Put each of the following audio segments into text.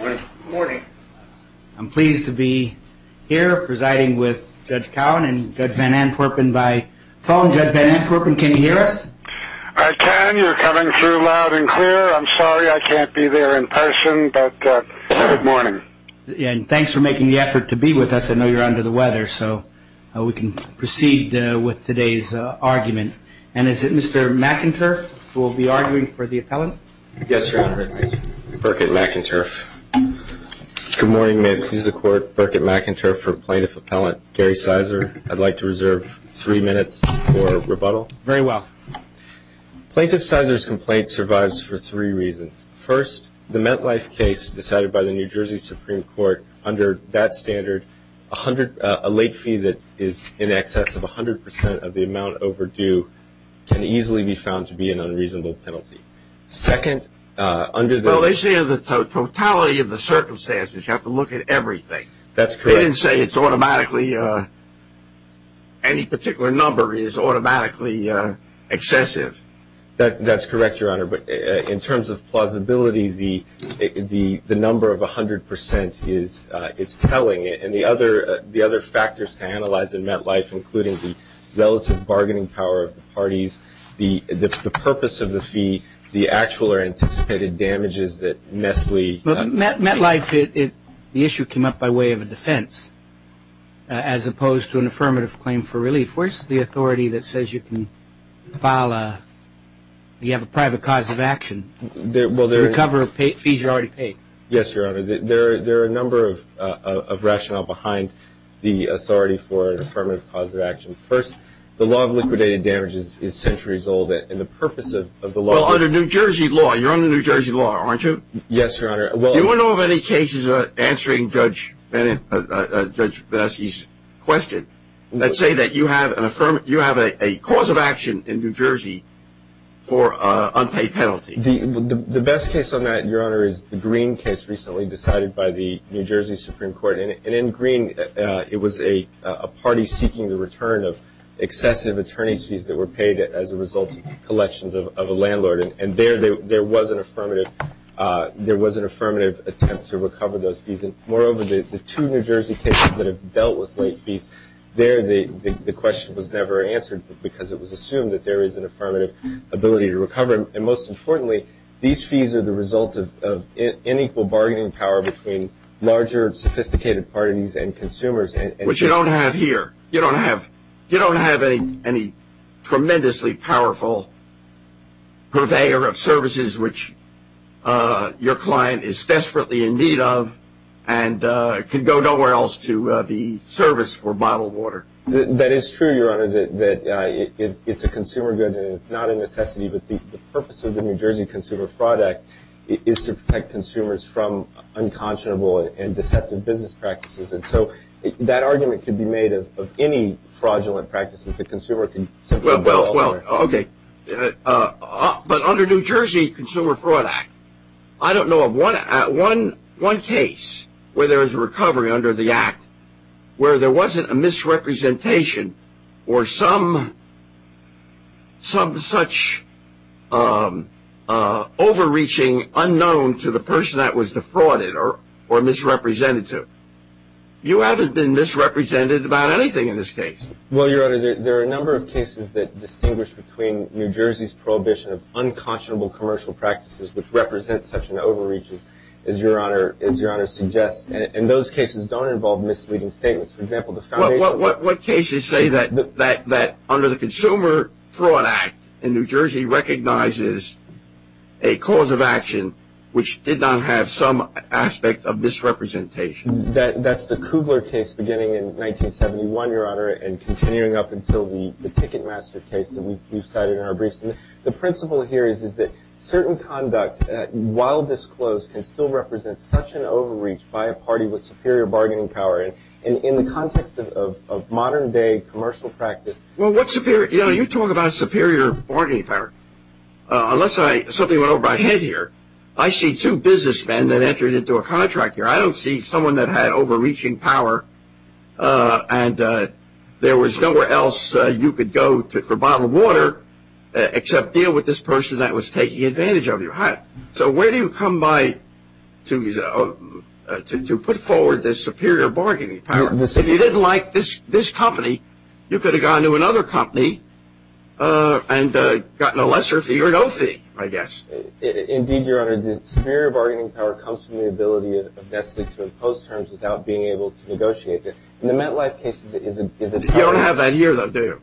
Good morning. I'm pleased to be here presiding with Judge Cowan and Judge Van Antwerpen by phone. Judge Van Antwerpen, can you hear us? I can. You're coming through loud and clear. I'm sorry I can't be there in person, but good morning. And thanks for making the effort to be with us. I know you're under the weather, so we can proceed with today's argument. And is it Mr. McInturff who will be arguing for the appellant? Yes, Your Honor. It's Burkitt McInturff. Good morning. May it please the Court. Burkitt McInturff for Plaintiff Appellant Gary Ciser. I'd like to reserve three minutes for rebuttal. Very well. Plaintiff Ciser's complaint survives for three reasons. First, the MetLife case decided by the New Jersey Supreme Court, under that standard, a late fee that is in excess of 100% of the amount overdue can easily be found to be an unreasonable penalty. Well, they say the totality of the circumstances. You have to look at everything. That's correct. They didn't say any particular number is automatically excessive. That's correct, Your Honor. But in terms of plausibility, the number of 100% is telling. And the other factors to analyze in MetLife, including the relative bargaining power of the parties, the purpose of the fee, the actual or anticipated damages that Mestlee. MetLife, the issue came up by way of a defense, as opposed to an affirmative claim for relief. Where's the authority that says you can file, you have a private cause of action, the recovery of fees you already paid? Yes, Your Honor. There are a number of rationale behind the authority for affirmative cause of action. First, the law of liquidated damages is centuries old, and the purpose of the law. Well, under New Jersey law, you're under New Jersey law, aren't you? Yes, Your Honor. Do you know of any cases answering Judge Baski's question that say that you have a cause of action in New Jersey for unpaid penalty? The best case on that, Your Honor, is the Green case recently decided by the New Jersey Supreme Court. And in Green, it was a party seeking the return of excessive attorney's fees that were paid as a result of collections of a landlord. And there was an affirmative attempt to recover those fees. And moreover, the two New Jersey cases that have dealt with late fees, there the question was never answered because it was assumed that there is an affirmative ability to recover. And most importantly, these fees are the result of unequal bargaining power between larger, sophisticated parties and consumers. Which you don't have here. You don't have any tremendously powerful purveyor of services which your client is desperately in need of and could go nowhere else to be serviced for bottled water. That is true, Your Honor, that it's a consumer good and it's not a necessity. But the purpose of the New Jersey Consumer Fraud Act is to protect consumers from unconscionable and deceptive business practices. And so that argument could be made of any fraudulent practices. The consumer can simply go elsewhere. Well, okay. But under New Jersey Consumer Fraud Act, I don't know of one case where there is a recovery under the act where there wasn't a misrepresentation or some such overreaching unknown to the person that was defrauded or misrepresented to. You haven't been misrepresented about anything in this case. Well, Your Honor, there are a number of cases that distinguish between New Jersey's prohibition of unconscionable commercial practices which represent such an overreaching, as Your Honor suggests. And those cases don't involve misleading statements. For example, the foundation of the – Well, what cases say that under the Consumer Fraud Act, New Jersey recognizes a cause of action which did not have some aspect of misrepresentation? That's the Kugler case beginning in 1971, Your Honor, and continuing up until the Ticketmaster case that we've cited in our briefs. And the principle here is that certain conduct, while disclosed, can still represent such an overreach by a party with superior bargaining power. And in the context of modern-day commercial practice – Well, what's superior? You know, you talk about superior bargaining power. Unless I – something went over my head here. I see two businessmen that entered into a contract here. I don't see someone that had overreaching power, and there was nowhere else you could go for a bottle of water except deal with this person that was taking advantage of your hat. So where do you come by to put forward this superior bargaining power? If you didn't like this company, you could have gone to another company and gotten a lesser fee or no fee, I guess. Indeed, Your Honor, the superior bargaining power comes from the ability of Nestlé to impose terms without being able to negotiate them. And the MetLife case is a – You don't have that here, though, do you?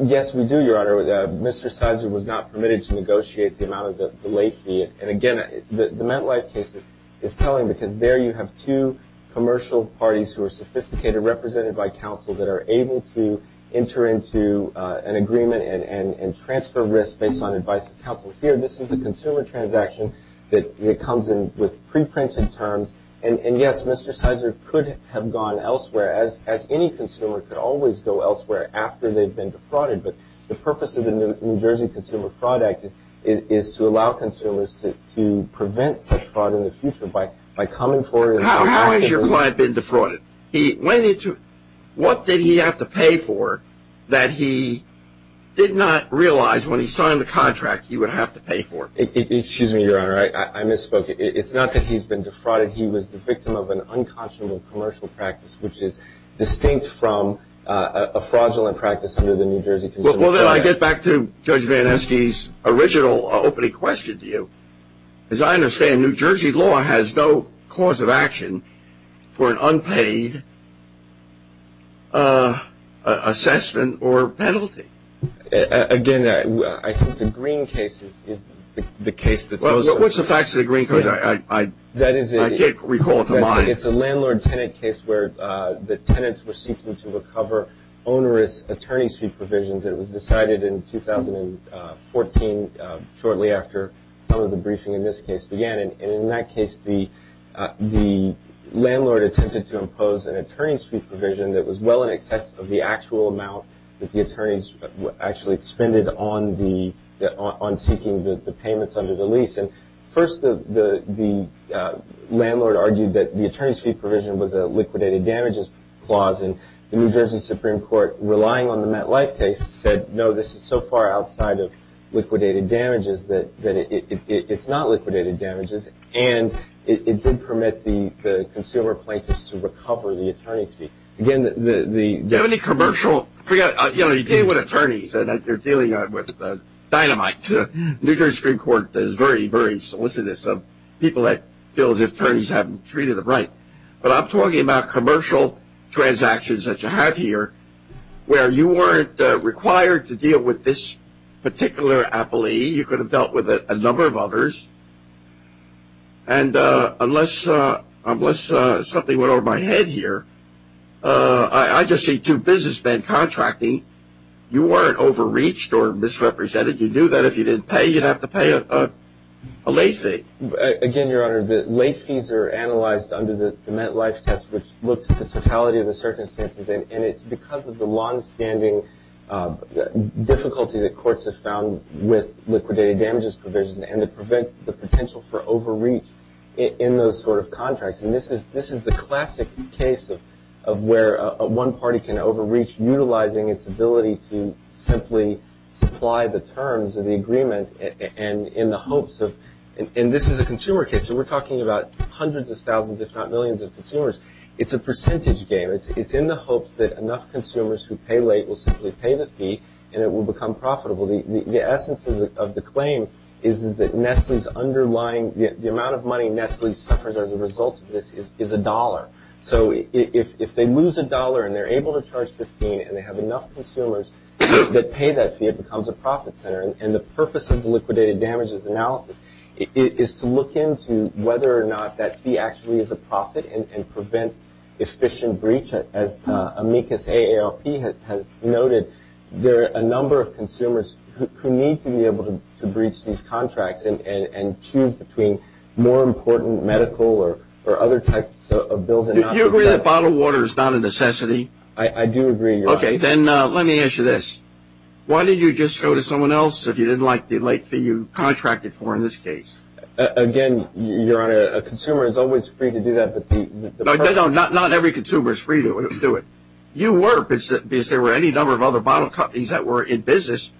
Yes, we do, Your Honor. Mr. Sizer was not permitted to negotiate the amount of the late fee. And again, the MetLife case is telling, because there you have two commercial parties who are sophisticated, represented by counsel, that are able to enter into an agreement and transfer risk based on advice of counsel. Here, this is a consumer transaction that comes in with preprinted terms and, yes, Mr. Sizer could have gone elsewhere, as any consumer could always go elsewhere after they've been defrauded. But the purpose of the New Jersey Consumer Fraud Act is to allow consumers to prevent such fraud in the future by coming forward. How has your client been defrauded? What did he have to pay for that he did not realize when he signed the contract he would have to pay for? Excuse me, Your Honor, I misspoke. It's not that he's been defrauded. He was the victim of an unconscionable commercial practice, which is distinct from a fraudulent practice under the New Jersey Consumer Fraud Act. Well, then I get back to Judge Van Esky's original opening question to you. As I understand, New Jersey law has no cause of action for an unpaid assessment or penalty. Again, I think the Green case is the case that's most important. What's the facts of the Green case? I can't recall it to mind. It's a landlord-tenant case where the tenants were seeking to recover onerous attorney's fee provisions that was decided in 2014, shortly after some of the briefing in this case began. And in that case, the landlord attempted to impose an attorney's fee provision that was well in excess of the actual amount that the attorneys actually expended on seeking the payments under the lease. And first, the landlord argued that the attorney's fee provision was a liquidated damages clause. And the New Jersey Supreme Court, relying on the MetLife case, said no, this is so far outside of liquidated damages that it's not liquidated damages. And it did permit the consumer plaintiffs to recover the attorney's fee. Do you have any commercial? You know, you deal with attorneys. You're dealing with dynamite. New Jersey Supreme Court is very, very solicitous of people that feel as if attorneys haven't treated them right. But I'm talking about commercial transactions that you have here, where you weren't required to deal with this particular appellee. You could have dealt with a number of others. And unless something went over my head here, I just see two businessmen contracting. You weren't overreached or misrepresented. You knew that if you didn't pay, you'd have to pay a late fee. Again, Your Honor, the late fees are analyzed under the MetLife test, which looks at the totality of the circumstances. And it's because of the longstanding difficulty that courts have found with liquidated damages provision and to prevent the potential for overreach in those sort of contracts. And this is the classic case of where one party can overreach, utilizing its ability to simply supply the terms of the agreement in the hopes of – and this is a consumer case, so we're talking about hundreds of thousands, if not millions of consumers. It's a percentage game. It's in the hopes that enough consumers who pay late will simply pay the fee and it will become profitable. The essence of the claim is that Nestle's underlying – the amount of money Nestle suffers as a result of this is a dollar. So if they lose a dollar and they're able to charge $15 and they have enough consumers that pay that fee, it becomes a profit center. And the purpose of the liquidated damages analysis is to look into whether or not that fee actually is a profit and prevents efficient breach. As amicus AALP has noted, there are a number of consumers who need to be able to breach these contracts and choose between more important medical or other types of bills. Do you agree that bottled water is not a necessity? I do agree, Your Honor. Okay, then let me ask you this. Why did you just go to someone else if you didn't like the late fee you contracted for in this case? Again, Your Honor, a consumer is always free to do that. No, not every consumer is free to do it. You were, because there were any number of other bottle companies that were in business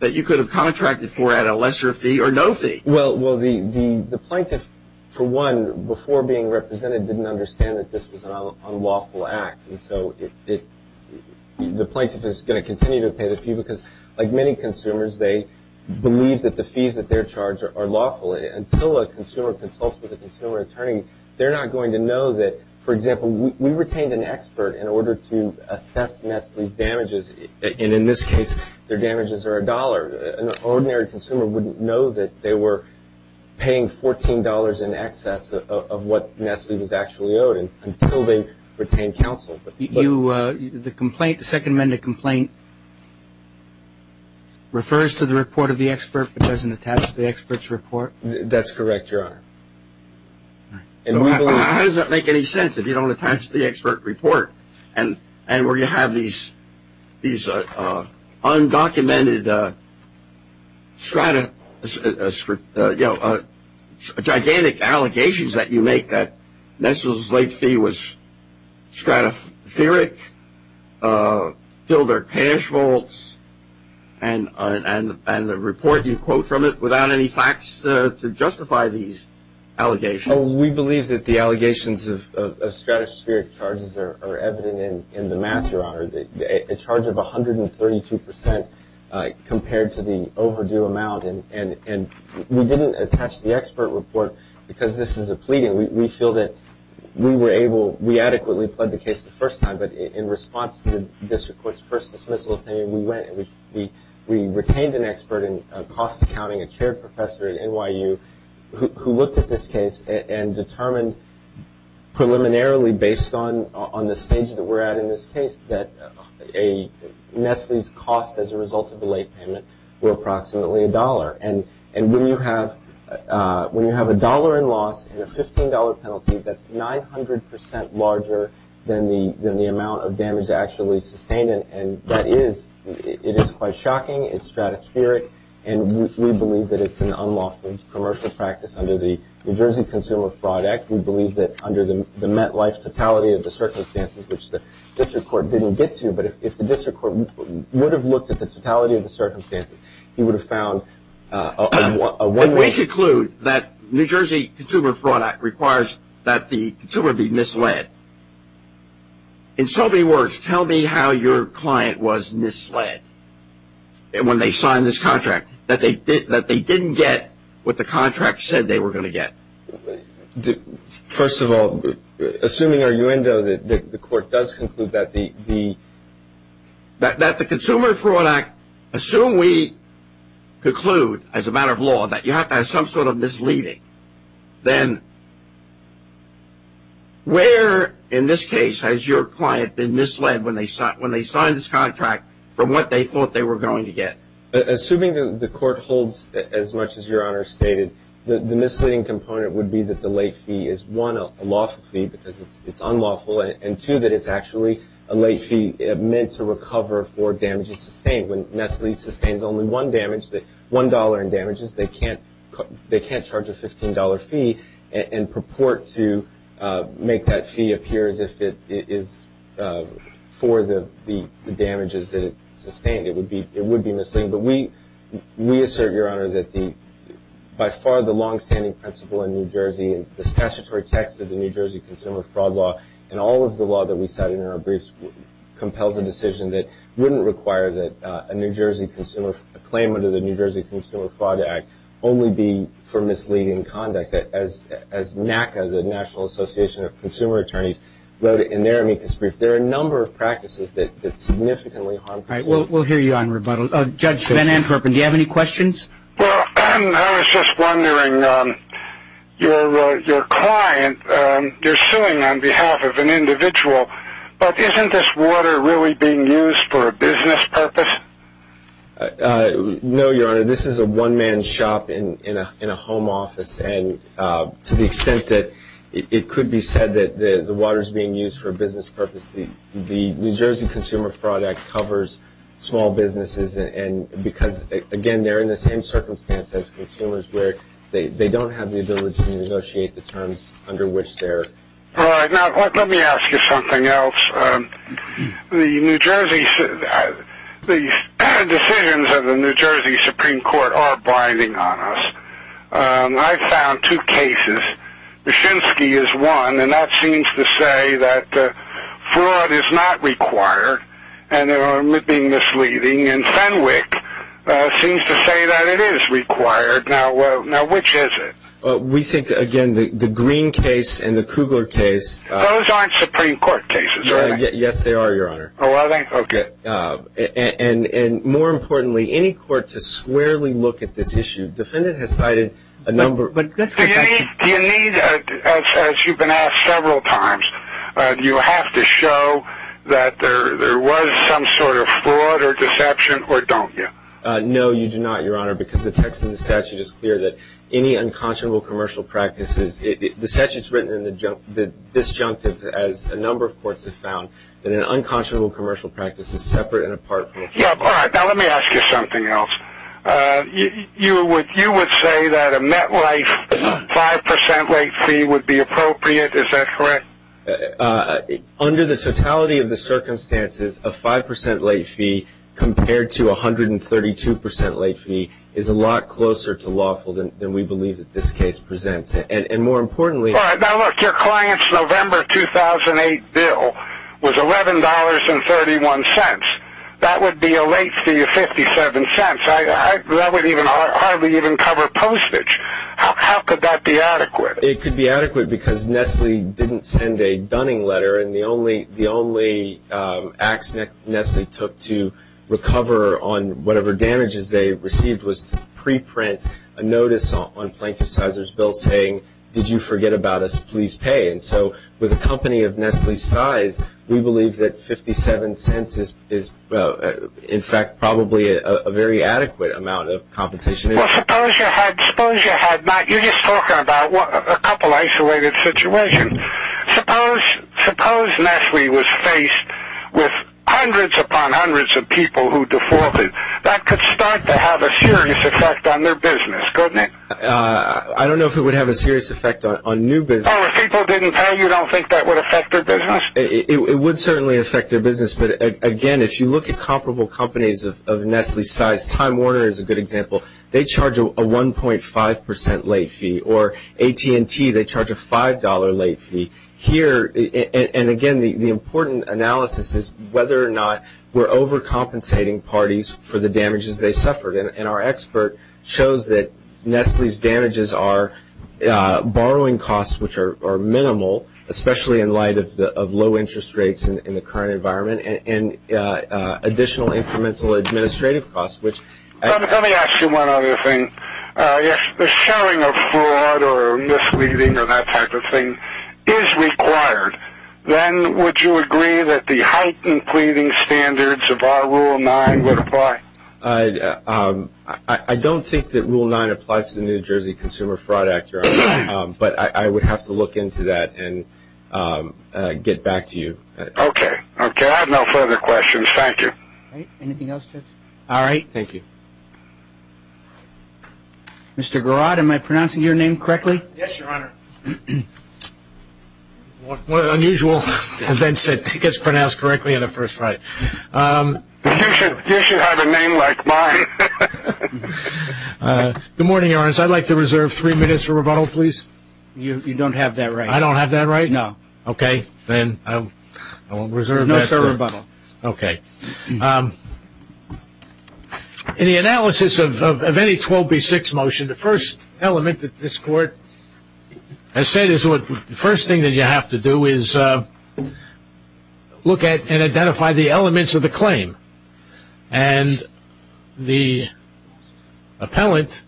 that you could have contracted for at a lesser fee or no fee. Well, the plaintiff, for one, before being represented didn't understand that this was an unlawful act. And so the plaintiff is going to continue to pay the fee because, like many consumers, they believe that the fees that they're charged are lawful. Until a consumer consults with a consumer attorney, they're not going to know that. For example, we retained an expert in order to assess Nestle's damages. And in this case, their damages are $1. An ordinary consumer wouldn't know that they were paying $14 in excess of what Nestle was actually owed until they retained counsel. The complaint, the Second Amendment complaint, refers to the report of the expert but doesn't attach to the expert's report? That's correct, Your Honor. How does that make any sense if you don't attach the expert report? And where you have these undocumented gigantic allegations that you make that Nestle's late fee was stratospheric, filled their cash vaults, and the report you quote from it without any facts to justify these allegations? Well, we believe that the allegations of stratospheric charges are evident in the math, Your Honor, a charge of 132% compared to the overdue amount. And we didn't attach the expert report because this is a pleading. We feel that we adequately pled the case the first time, but in response to the district court's first dismissal opinion, we went and we retained an expert in cost accounting, a chair professor at NYU, who looked at this case and determined preliminarily based on the stage that we're at in this case that Nestle's costs as a result of the late payment were approximately $1. And when you have $1 in loss and a $15 penalty, that's 900% larger than the amount of damage actually sustained. And that is quite shocking. It's stratospheric. And we believe that it's an unlawful commercial practice under the New Jersey Consumer Fraud Act. We believe that under the MetLife totality of the circumstances, which the district court didn't get to, but if the district court would have looked at the totality of the circumstances, he would have found a one-way- If we conclude that New Jersey Consumer Fraud Act requires that the consumer be misled, in so many words, tell me how your client was misled when they signed this contract, that they didn't get what the contract said they were going to get. First of all, assuming our uendo that the court does conclude that the- That the Consumer Fraud Act, assume we conclude as a matter of law that you have to have some sort of misleading, then where in this case has your client been misled when they signed this contract from what they thought they were going to get? Assuming that the court holds as much as Your Honor stated, the misleading component would be that the late fee is, one, a lawful fee because it's unlawful, and two, that it's actually a late fee meant to recover for damages sustained. When Nestle sustains only one damage, $1 in damages, they can't charge a $15 fee and purport to make that fee appear as if it is for the damages that it sustained. It would be misleading. But we assert, Your Honor, that by far the longstanding principle in New Jersey, the statutory text of the New Jersey Consumer Fraud Law, and all of the law that we cited in our briefs, wouldn't require that a claim under the New Jersey Consumer Fraud Act only be for misleading conduct. As NACA, the National Association of Consumer Attorneys, wrote in their amicus brief, there are a number of practices that significantly harm consumers. All right, we'll hear you on rebuttal. Judge Van Antropen, do you have any questions? Well, I was just wondering, your client, they're suing on behalf of an individual, but isn't this water really being used for a business purpose? No, Your Honor, this is a one-man shop in a home office, and to the extent that it could be said that the water is being used for a business purpose, the New Jersey Consumer Fraud Act covers small businesses because, again, they're in the same circumstance as consumers where they don't have the ability to negotiate the terms under which they're. All right. Now, let me ask you something else. The New Jersey, the decisions of the New Jersey Supreme Court are binding on us. I found two cases. Byshinski is one, and that seems to say that fraud is not required and that it would be misleading, and Fenwick seems to say that it is required. Now, which is it? We think, again, the Green case and the Kugler case. Those aren't Supreme Court cases, are they? Yes, they are, Your Honor. Oh, are they? Okay. And more importantly, any court to squarely look at this issue. Defendant has cited a number. Do you need, as you've been asked several times, do you have to show that there was some sort of fraud or deception, or don't you? No, you do not, Your Honor, because the text in the statute is clear that any unconscionable commercial practice is, the statute's written in the disjunctive, as a number of courts have found, that an unconscionable commercial practice is separate and apart from a fraud. All right. Now, let me ask you something else. You would say that a MetLife 5% late fee would be appropriate. Is that correct? Under the totality of the circumstances, a 5% late fee compared to a 132% late fee is a lot closer to lawful than we believe that this case presents. And more importantly ---- All right. Now, look, your client's November 2008 bill was $11.31. That would be a late fee of 57 cents. That would hardly even cover postage. How could that be adequate? It could be adequate because Nestle didn't send a dunning letter, and the only acts Nestle took to recover on whatever damages they received was to preprint a notice on Plaintiff Sizer's bill saying, did you forget about us, please pay. And so with a company of Nestle's size, we believe that 57 cents is, in fact, probably a very adequate amount of compensation. Well, suppose you had not. You're just talking about a couple isolated situations. Suppose Nestle was faced with hundreds upon hundreds of people who defaulted. That could start to have a serious effect on their business, couldn't it? I don't know if it would have a serious effect on new business. Oh, if people didn't pay, you don't think that would affect their business? It would certainly affect their business. But, again, if you look at comparable companies of Nestle's size, Time Warner is a good example. They charge a 1.5 percent late fee, or AT&T, they charge a $5 late fee. Here, and again, the important analysis is whether or not we're overcompensating parties for the damages they suffered. And our expert shows that Nestle's damages are borrowing costs, which are minimal, especially in light of low interest rates in the current environment, and additional incremental administrative costs. Let me ask you one other thing. If the sharing of fraud or misleading or that type of thing is required, then would you agree that the heightened pleading standards of our Rule 9 would apply? I don't think that Rule 9 applies to the New Jersey Consumer Fraud Act, but I would have to look into that and get back to you. Okay. Okay. I have no further questions. Thank you. Anything else, Judge? All right. Thank you. Mr. Garraud, am I pronouncing your name correctly? Yes, Your Honor. One of the unusual events that gets pronounced correctly on the first try. You should have a name like mine. Good morning, Your Honor. I'd like to reserve three minutes for rebuttal, please. You don't have that right. I don't have that right? No. Okay. Then I will reserve that. No further rebuttal. Okay. In the analysis of any 12B6 motion, the first element that this Court has said is the first thing that you have to do is look at and identify the elements of the claim. And the appellant,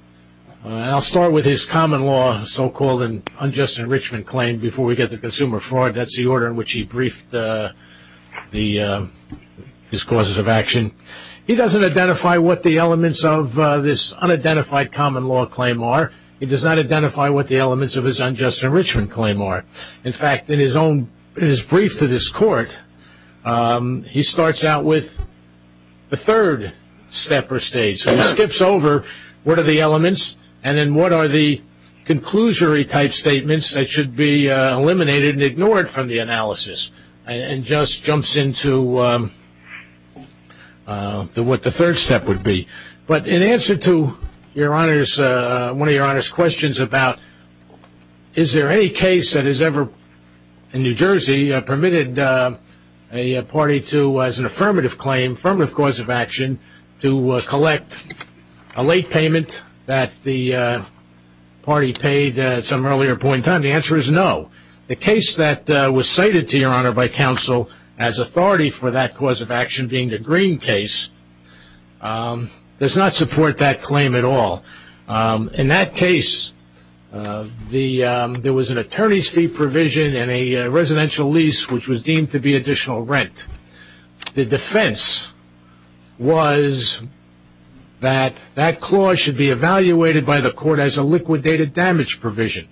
and I'll start with his common law so-called and unjust enrichment claim before we get to consumer fraud. That's the order in which he briefed his causes of action. He doesn't identify what the elements of this unidentified common law claim are. He does not identify what the elements of his unjust enrichment claim are. In fact, in his brief to this Court, he starts out with the third step or stage. He skips over what are the elements and then what are the conclusory type statements that should be eliminated and ignored from the analysis and just jumps into what the third step would be. But in answer to one of Your Honor's questions about is there any case that has ever, in New Jersey, permitted a party to, as an affirmative claim, as an affirmative cause of action, to collect a late payment that the party paid at some earlier point in time? The answer is no. The case that was cited to Your Honor by counsel as authority for that cause of action, being the Green case, does not support that claim at all. In that case, there was an attorney's fee provision and a residential lease, which was deemed to be additional rent. The defense was that that clause should be evaluated by the Court as a liquidated damage provision.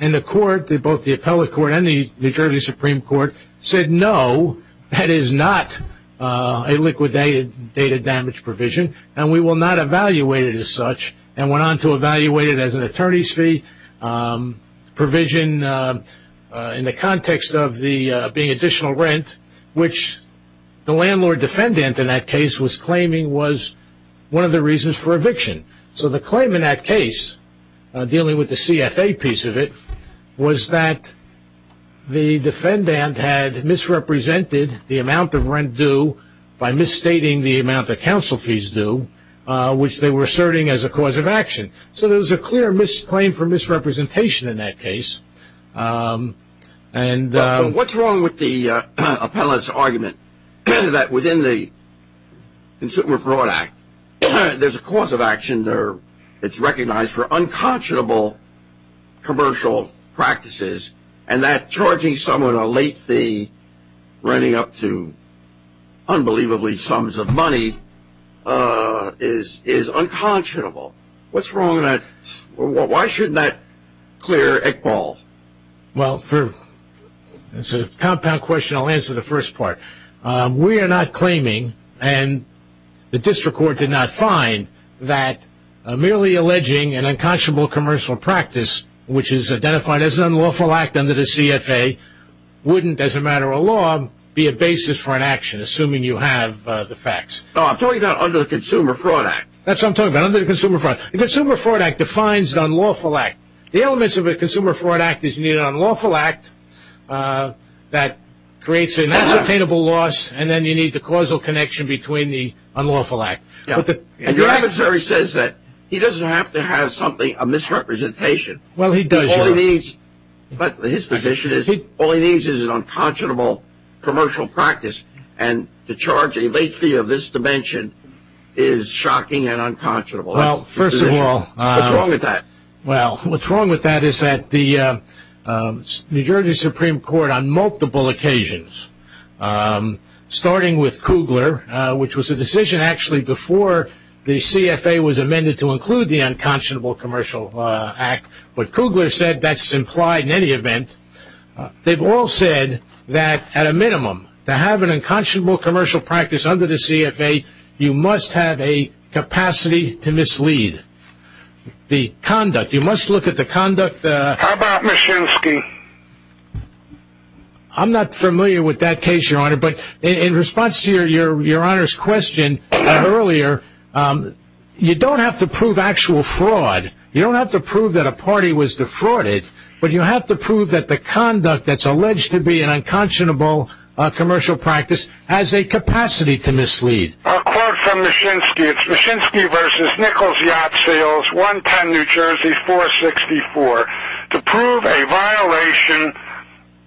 And the Court, both the Appellate Court and the New Jersey Supreme Court, said no, that is not a liquidated damage provision and we will not evaluate it as such and went on to evaluate it as an attorney's fee provision in the context of being additional rent, which the landlord defendant in that case was claiming was one of the reasons for eviction. So the claim in that case, dealing with the CFA piece of it, was that the defendant had misrepresented the amount of rent due by misstating the amount of counsel fees due, which they were asserting as a cause of action. So there was a clear misclaim for misrepresentation in that case. What's wrong with the appellate's argument that within the Consumer Fraud Act, there's a cause of action there that's recognized for unconscionable commercial practices and that charging someone a late fee running up to unbelievably sums of money is unconscionable? What's wrong with that? Why shouldn't that clear equal? Well, for a compound question, I'll answer the first part. We are not claiming, and the District Court did not find, that merely alleging an unconscionable commercial practice, which is identified as an unlawful act under the CFA, wouldn't, as a matter of law, be a basis for an action, assuming you have the facts. No, I'm talking about under the Consumer Fraud Act. That's what I'm talking about, under the Consumer Fraud Act. The Consumer Fraud Act defines the unlawful act. The elements of a Consumer Fraud Act is you need an unlawful act that creates an unsustainable loss, and then you need the causal connection between the unlawful act. And your adversary says that he doesn't have to have something, a misrepresentation. Well, he does. All he needs, his position is, all he needs is an unconscionable commercial practice, and to charge a late fee of this dimension is shocking and unconscionable. Well, first of all. What's wrong with that? Well, what's wrong with that is that the New Jersey Supreme Court, on multiple occasions, starting with Kugler, which was a decision, actually, before the CFA was amended to include the unconscionable commercial act, but Kugler said that's implied in any event. They've all said that, at a minimum, to have an unconscionable commercial practice under the CFA, you must have a capacity to mislead. The conduct, you must look at the conduct. How about Mashinsky? I'm not familiar with that case, Your Honor, but in response to Your Honor's question earlier, you don't have to prove actual fraud. You don't have to prove that a party was defrauded, but you have to prove that the conduct that's alleged to be an unconscionable commercial practice has a capacity to mislead. I'll quote from Mashinsky. It's Mashinsky v. Nichols Yacht Sales, 110 New Jersey, 464. To prove a violation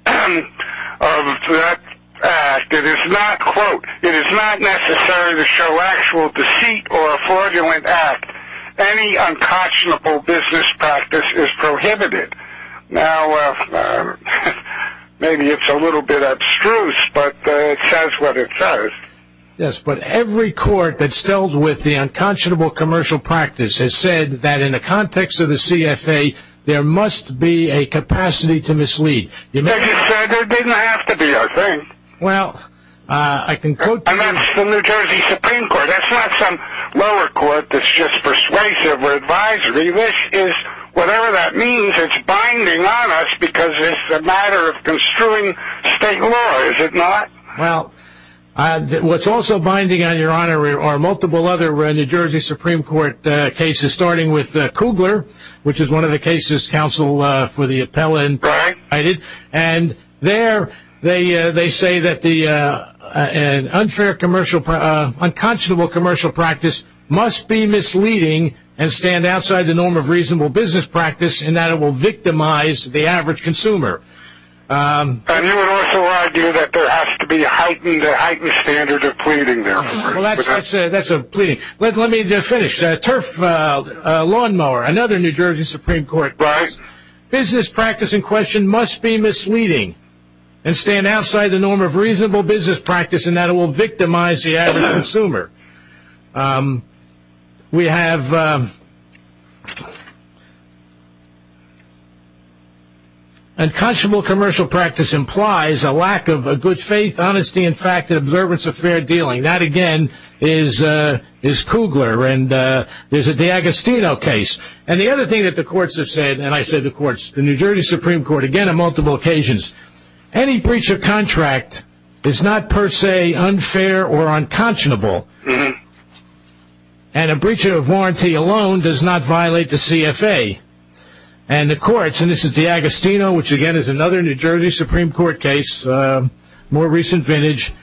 of that act, it is not, quote, it is not necessary to show actual deceit or a fraudulent act. Any unconscionable business practice is prohibited. Now, maybe it's a little bit abstruse, but it says what it says. Yes, but every court that's dealt with the unconscionable commercial practice has said that in the context of the CFA, there must be a capacity to mislead. As you said, there didn't have to be, I think. Well, I can quote to you. And that's the New Jersey Supreme Court. That's not some lower court that's just persuasive or advisory. Whatever that means, it's binding on us because it's a matter of construing state law, is it not? Well, what's also binding on your Honor are multiple other New Jersey Supreme Court cases, starting with Kugler, which is one of the cases counsel for the appellant cited. And there they say that an unfair, unconscionable commercial practice must be misleading and stand outside the norm of reasonable business practice in that it will victimize the average consumer. And you would also argue that there has to be heightened standards of pleading there. Well, that's a pleading. Let me finish. Turf Lawnmower, another New Jersey Supreme Court case. Business practice in question must be misleading and stand outside the norm of reasonable business practice in that it will victimize the average consumer. We have unconscionable commercial practice implies a lack of a good faith, honesty, and fact, and observance of fair dealing. That, again, is Kugler. And there's the Agostino case. And the other thing that the courts have said, and I say the courts, the New Jersey Supreme Court, again, on multiple occasions, any breach of contract is not per se unfair or unconscionable. And a breach of warranty alone does not violate the CFA. And the courts, and this is the Agostino, which, again, is another New Jersey Supreme Court case, more recent vintage,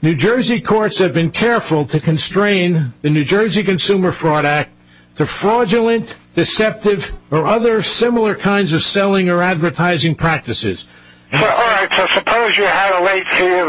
New Jersey courts have been careful to constrain the New Jersey Consumer Fraud Act to fraudulent, deceptive, or other similar kinds of selling or advertising practices. All right, so suppose you had a late fee of,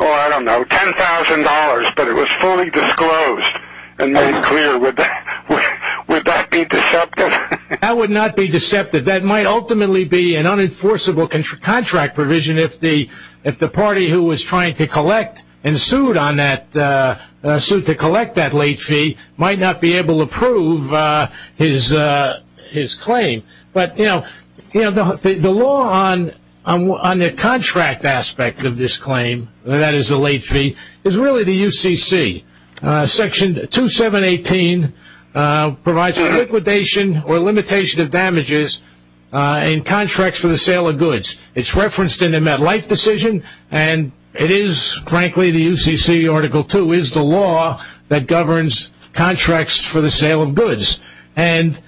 I don't know, $10,000, but it was fully disclosed and made clear. Would that be deceptive? That would not be deceptive. That might ultimately be an unenforceable contract provision if the party who was trying to collect and sued to collect that late fee might not be able to prove his claim. But, you know, the law on the contract aspect of this claim, that is the late fee, is really the UCC. Section 2718 provides for liquidation or limitation of damages in contracts for the sale of goods. It's referenced in the MetLife decision, and it is, frankly, the UCC Article 2 is the law that governs contracts for the sale of goods. And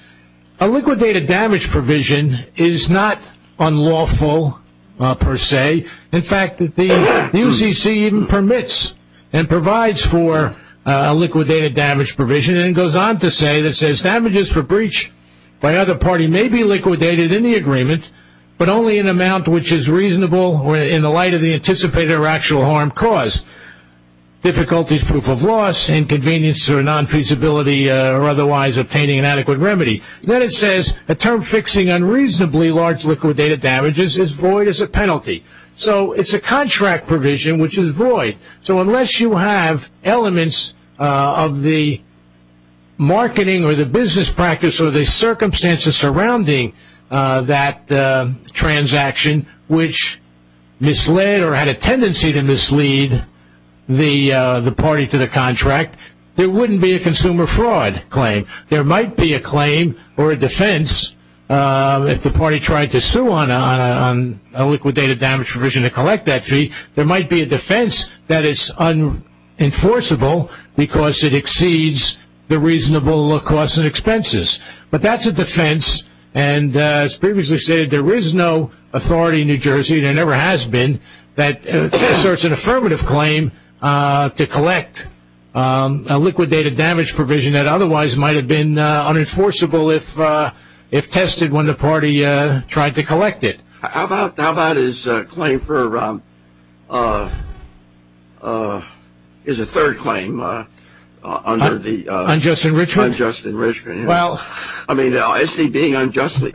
a liquidated damage provision is not unlawful, per se. In fact, the UCC even permits and provides for a liquidated damage provision, and it goes on to say, it says, damages for breach by other party may be liquidated in the agreement, but only in an amount which is reasonable in the light of the anticipated or actual harm caused. Difficulties, proof of loss, inconvenience or nonfeasibility, or otherwise obtaining an adequate remedy. Then it says, a term fixing unreasonably large liquidated damages is void as a penalty. So it's a contract provision which is void. So unless you have elements of the marketing or the business practice or the circumstances surrounding that transaction which misled or had a tendency to mislead the party to the contract, there wouldn't be a consumer fraud claim. There might be a claim or a defense if the party tried to sue on a liquidated damage provision to collect that fee. There might be a defense that it's unenforceable because it exceeds the reasonable costs and expenses. But that's a defense, and as previously stated, there is no authority in New Jersey, there never has been, that asserts an affirmative claim to collect a liquidated damage provision that otherwise might have been unenforceable if tested when the party tried to collect it. How about his claim for a third claim under the unjust enrichment? Well. I mean, SD being unjustly,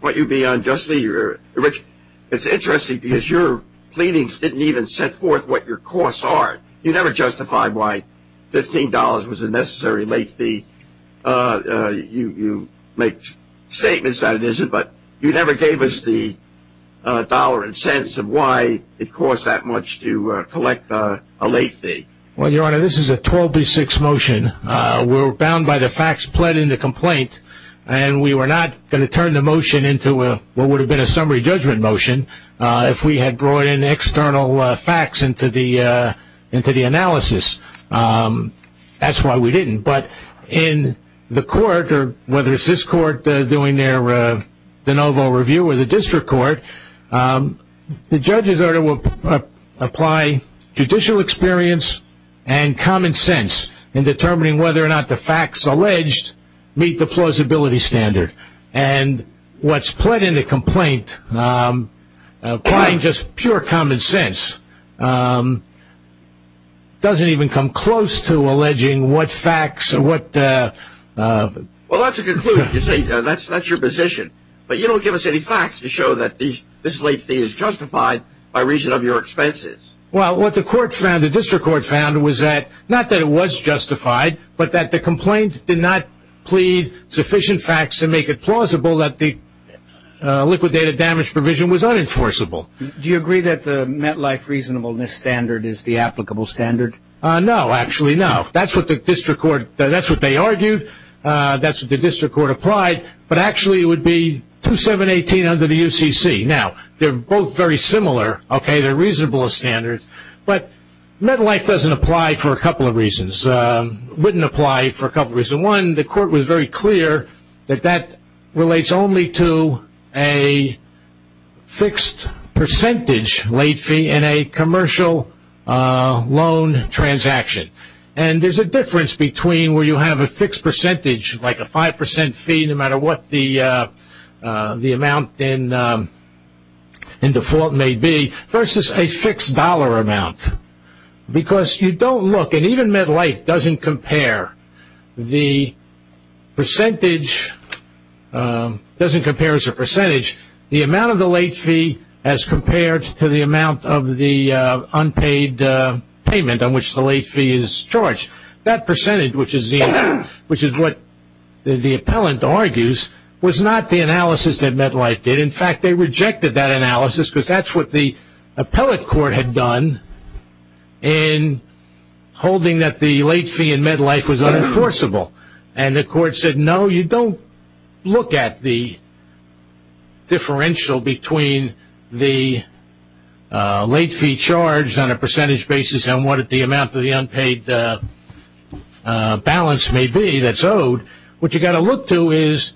what you be unjustly rich, it's interesting because your pleadings didn't even set forth what your costs are. You never justified why $15 was a necessary late fee. You make statements that it isn't, but you never gave us the dollar and cents of why it costs that much to collect a late fee. Well, Your Honor, this is a 12-6 motion. We're bound by the facts pled in the complaint, and we were not going to turn the motion into what would have been a summary judgment motion if we had brought in external facts into the analysis. That's why we didn't. But in the court, or whether it's this court doing their de novo review or the district court, the judge's order will apply judicial experience and common sense in determining whether or not the facts alleged meet the plausibility standard. And what's pled in the complaint, applying just pure common sense, doesn't even come close to alleging what facts or what. Well, that's a conclusion. That's your position. But you don't give us any facts to show that this late fee is justified by reason of your expenses. Well, what the court found, the district court found, was that, not that it was justified, but that the complaint did not plead sufficient facts and make it plausible that the liquidated damage provision was unenforceable. Do you agree that the MetLife reasonableness standard is the applicable standard? No, actually, no. That's what the district court argued. That's what the district court applied. But actually, it would be 2718 under the UCC. Now, they're both very similar. Okay, they're reasonable standards. But MetLife doesn't apply for a couple of reasons. It wouldn't apply for a couple of reasons. One, the court was very clear that that relates only to a fixed percentage late fee in a commercial loan transaction. And there's a difference between where you have a fixed percentage, like a 5% fee, no matter what the amount in default may be, versus a fixed dollar amount. Because you don't look, and even MetLife doesn't compare, the percentage, doesn't compare as a percentage, the amount of the late fee as compared to the amount of the unpaid payment on which the late fee is charged. That percentage, which is what the appellant argues, was not the analysis that MetLife did. In fact, they rejected that analysis because that's what the appellate court had done in holding that the late fee in MetLife was unenforceable. And the court said, no, you don't look at the differential between the late fee charged on a percentage basis and what the amount of the unpaid balance may be that's owed. What you've got to look to is,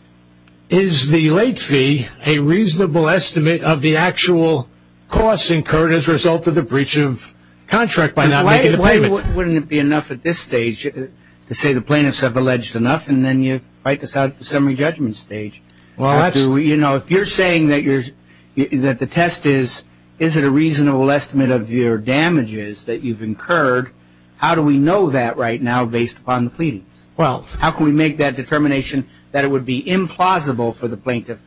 is the late fee a reasonable estimate of the actual costs incurred as a result of the breach of contract by not making the payment? Wouldn't it be enough at this stage to say the plaintiffs have alleged enough, and then you fight this out at the summary judgment stage? If you're saying that the test is, is it a reasonable estimate of your damages that you've incurred, how do we know that right now based upon the pleadings? Well, how can we make that determination that it would be implausible for the plaintiff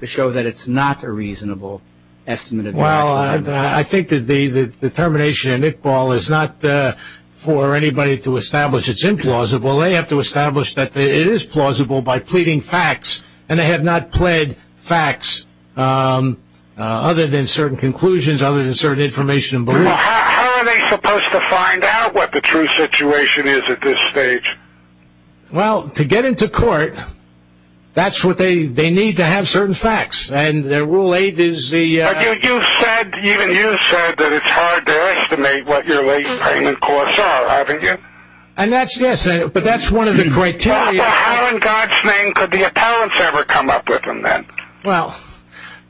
to show that it's not a reasonable estimate of your damages? Well, I think that the determination in Iqbal is not for anybody to establish it's implausible. They have to establish that it is plausible by pleading facts, and they have not pled facts other than certain conclusions, other than certain information and beliefs. Well, how are they supposed to find out what the true situation is at this stage? Well, to get into court, that's what they, they need to have certain facts, and their rule eight is the... But you, you said, even you said that it's hard to estimate what your late payment costs are, haven't you? And that's, yes, but that's one of the criteria... Well, how in God's name could the appellants ever come up with them then? Well,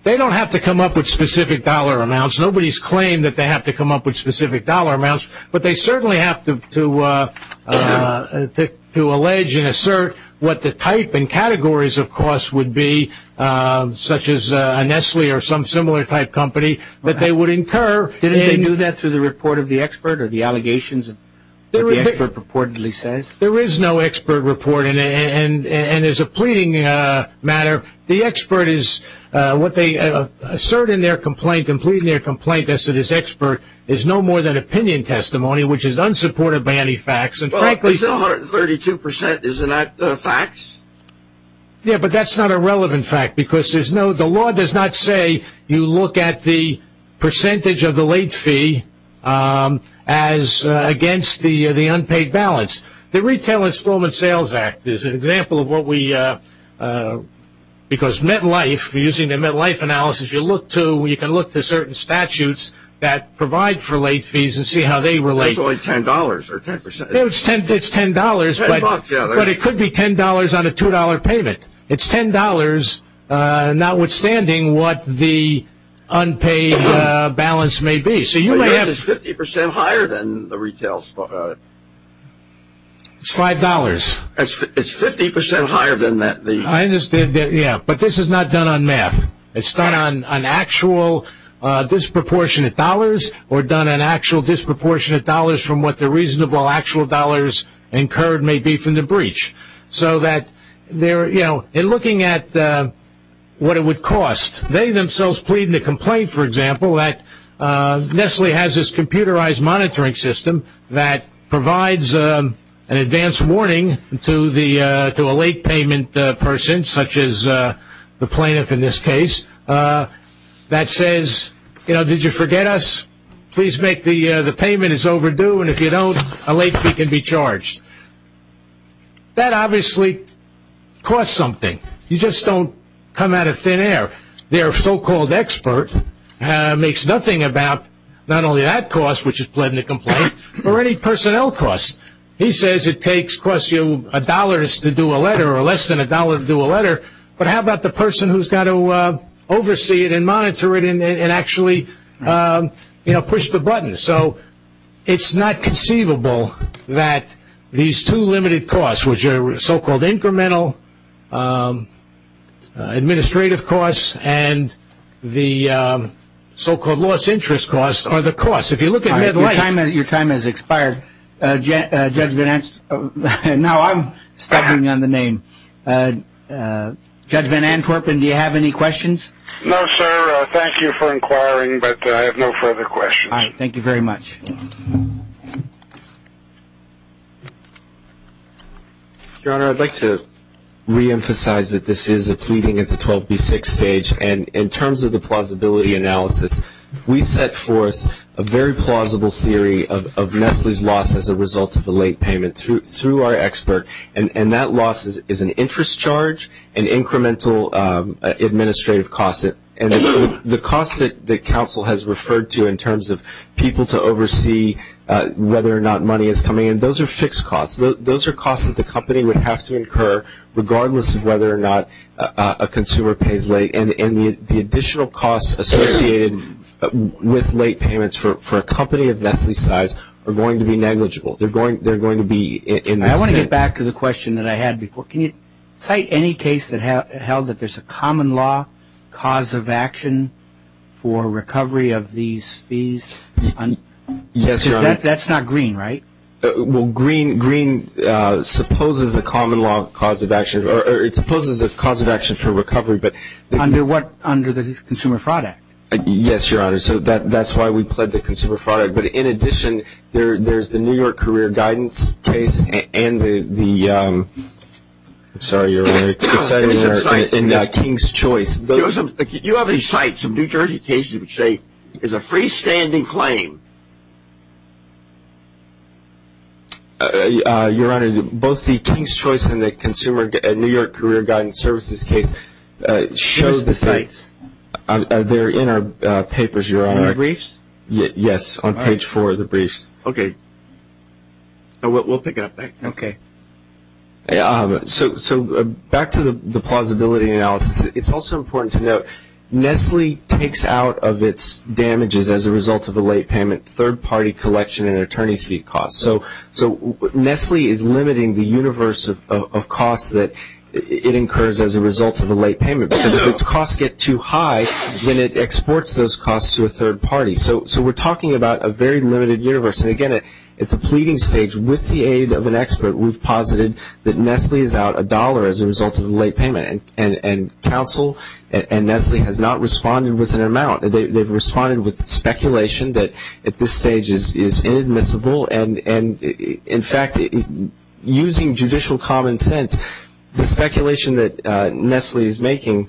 they don't have to come up with specific dollar amounts. Nobody's claimed that they have to come up with specific dollar amounts, but they certainly have to, to, to allege and assert what the type and categories of costs would be, such as a Nestle or some similar type company, that they would incur. Didn't they do that through the report of the expert or the allegations that the expert purportedly says? There is no expert report, and as a pleading matter, the expert is what they assert in their complaint and plead in their complaint, as to this expert is no more than opinion testimony, which is unsupported by any facts, and frankly... Well, it's still 132%, is it not, facts? Yeah, but that's not a relevant fact, because there's no, the law does not say you look at the percentage of the late fee as against the, the unpaid balance. The retail installment sales act is an example of what we, because MetLife, using the MetLife analysis, you look to, you can look to certain statutes that provide for late fees and see how they relate. It's only $10, or 10%. It's $10, but it could be $10 on a $2 payment. It's $10, notwithstanding what the unpaid balance may be. It's 50% higher than the retail. It's $5. It's 50% higher than that. I understand that, yeah, but this is not done on math. It's done on actual disproportionate dollars, or done on actual disproportionate dollars from what the reasonable actual dollars incurred may be from the breach. So that they're, you know, in looking at what it would cost, they themselves plead in a complaint, for example, that Nestle has this computerized monitoring system that provides an advanced warning to the, to a late payment person, such as the plaintiff in this case, that says, you know, did you forget us? Please make the, the payment is overdue, and if you don't, a late fee can be charged. That obviously costs something. You just don't come out of thin air. Their so-called expert makes nothing about not only that cost, which is plead in a complaint, or any personnel costs. He says it takes, costs you a dollar to do a letter, or less than a dollar to do a letter, but how about the person who's got to oversee it and monitor it and actually, you know, push the button. So it's not conceivable that these two limited costs, which are so-called incremental administrative costs and the so-called loss interest costs are the costs. If you look at Medlife. Your time has expired. Judge Van Ants, no, I'm stepping on the name. Judge Van Antwerpen, do you have any questions? No, sir. Thank you for inquiring, but I have no further questions. All right, thank you very much. Your Honor, I'd like to reemphasize that this is a pleading at the 12B6 stage, and in terms of the plausibility analysis, we set forth a very plausible theory of Nestle's loss as a result of a late payment through our expert, and that loss is an interest charge, an incremental administrative cost, and the cost that counsel has referred to in terms of people to oversee whether or not money is coming in, those are fixed costs. Those are costs that the company would have to incur regardless of whether or not a consumer pays late, and the additional costs associated with late payments for a company of Nestle's size are going to be negligible. They're going to be in this sense. I want to get back to the question that I had before. Can you cite any case that held that there's a common law cause of action for recovery of these fees? Yes, Your Honor. Because that's not green, right? Well, green supposes a common law cause of action, or it supposes a cause of action for recovery. Under what? Under the Consumer Fraud Act. Yes, Your Honor. So that's why we pled the Consumer Fraud Act. But in addition, there's the New York Career Guidance case and the King's Choice. Do you have any cites of New Jersey cases which say there's a freestanding claim? Your Honor, both the King's Choice and the New York Career Guidance Services case show the same. Where's the cites? They're in our papers, Your Honor. In the briefs? Yes, on page four of the briefs. Okay. We'll pick it up. Okay. So back to the plausibility analysis. It's also important to note, Nestle takes out of its damages as a result of a late payment third-party collection and attorney's fee costs. So Nestle is limiting the universe of costs that it incurs as a result of a late payment, because if its costs get too high, then it exports those costs to a third party. So we're talking about a very limited universe. And, again, at the pleading stage, with the aid of an expert, we've posited that Nestle is out a dollar as a result of the late payment. And counsel and Nestle has not responded with an amount. They've responded with speculation that at this stage is inadmissible. And, in fact, using judicial common sense, the speculation that Nestle is making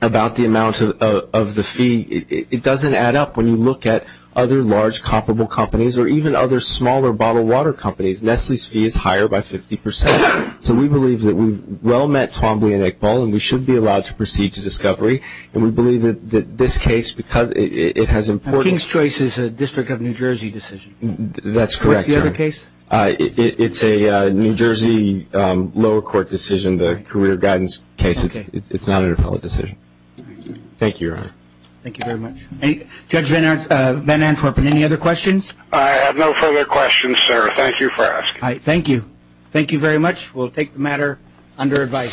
about the amount of the fee, it doesn't add up when you look at other large comparable companies or even other smaller bottled water companies. Nestle's fee is higher by 50 percent. So we believe that we've well met Twombly and Iqbal and we should be allowed to proceed to discovery. And we believe that this case, because it has important ---- King's Choice is a District of New Jersey decision. That's correct, Your Honor. What's the other case? It's a New Jersey lower court decision, the career guidance case. It's not an appellate decision. Thank you, Your Honor. Thank you very much. Judge Van Antwerpen, any other questions? I have no further questions, sir. Thank you for asking. Thank you. Thank you very much. We'll take the matter under advice. Thank you.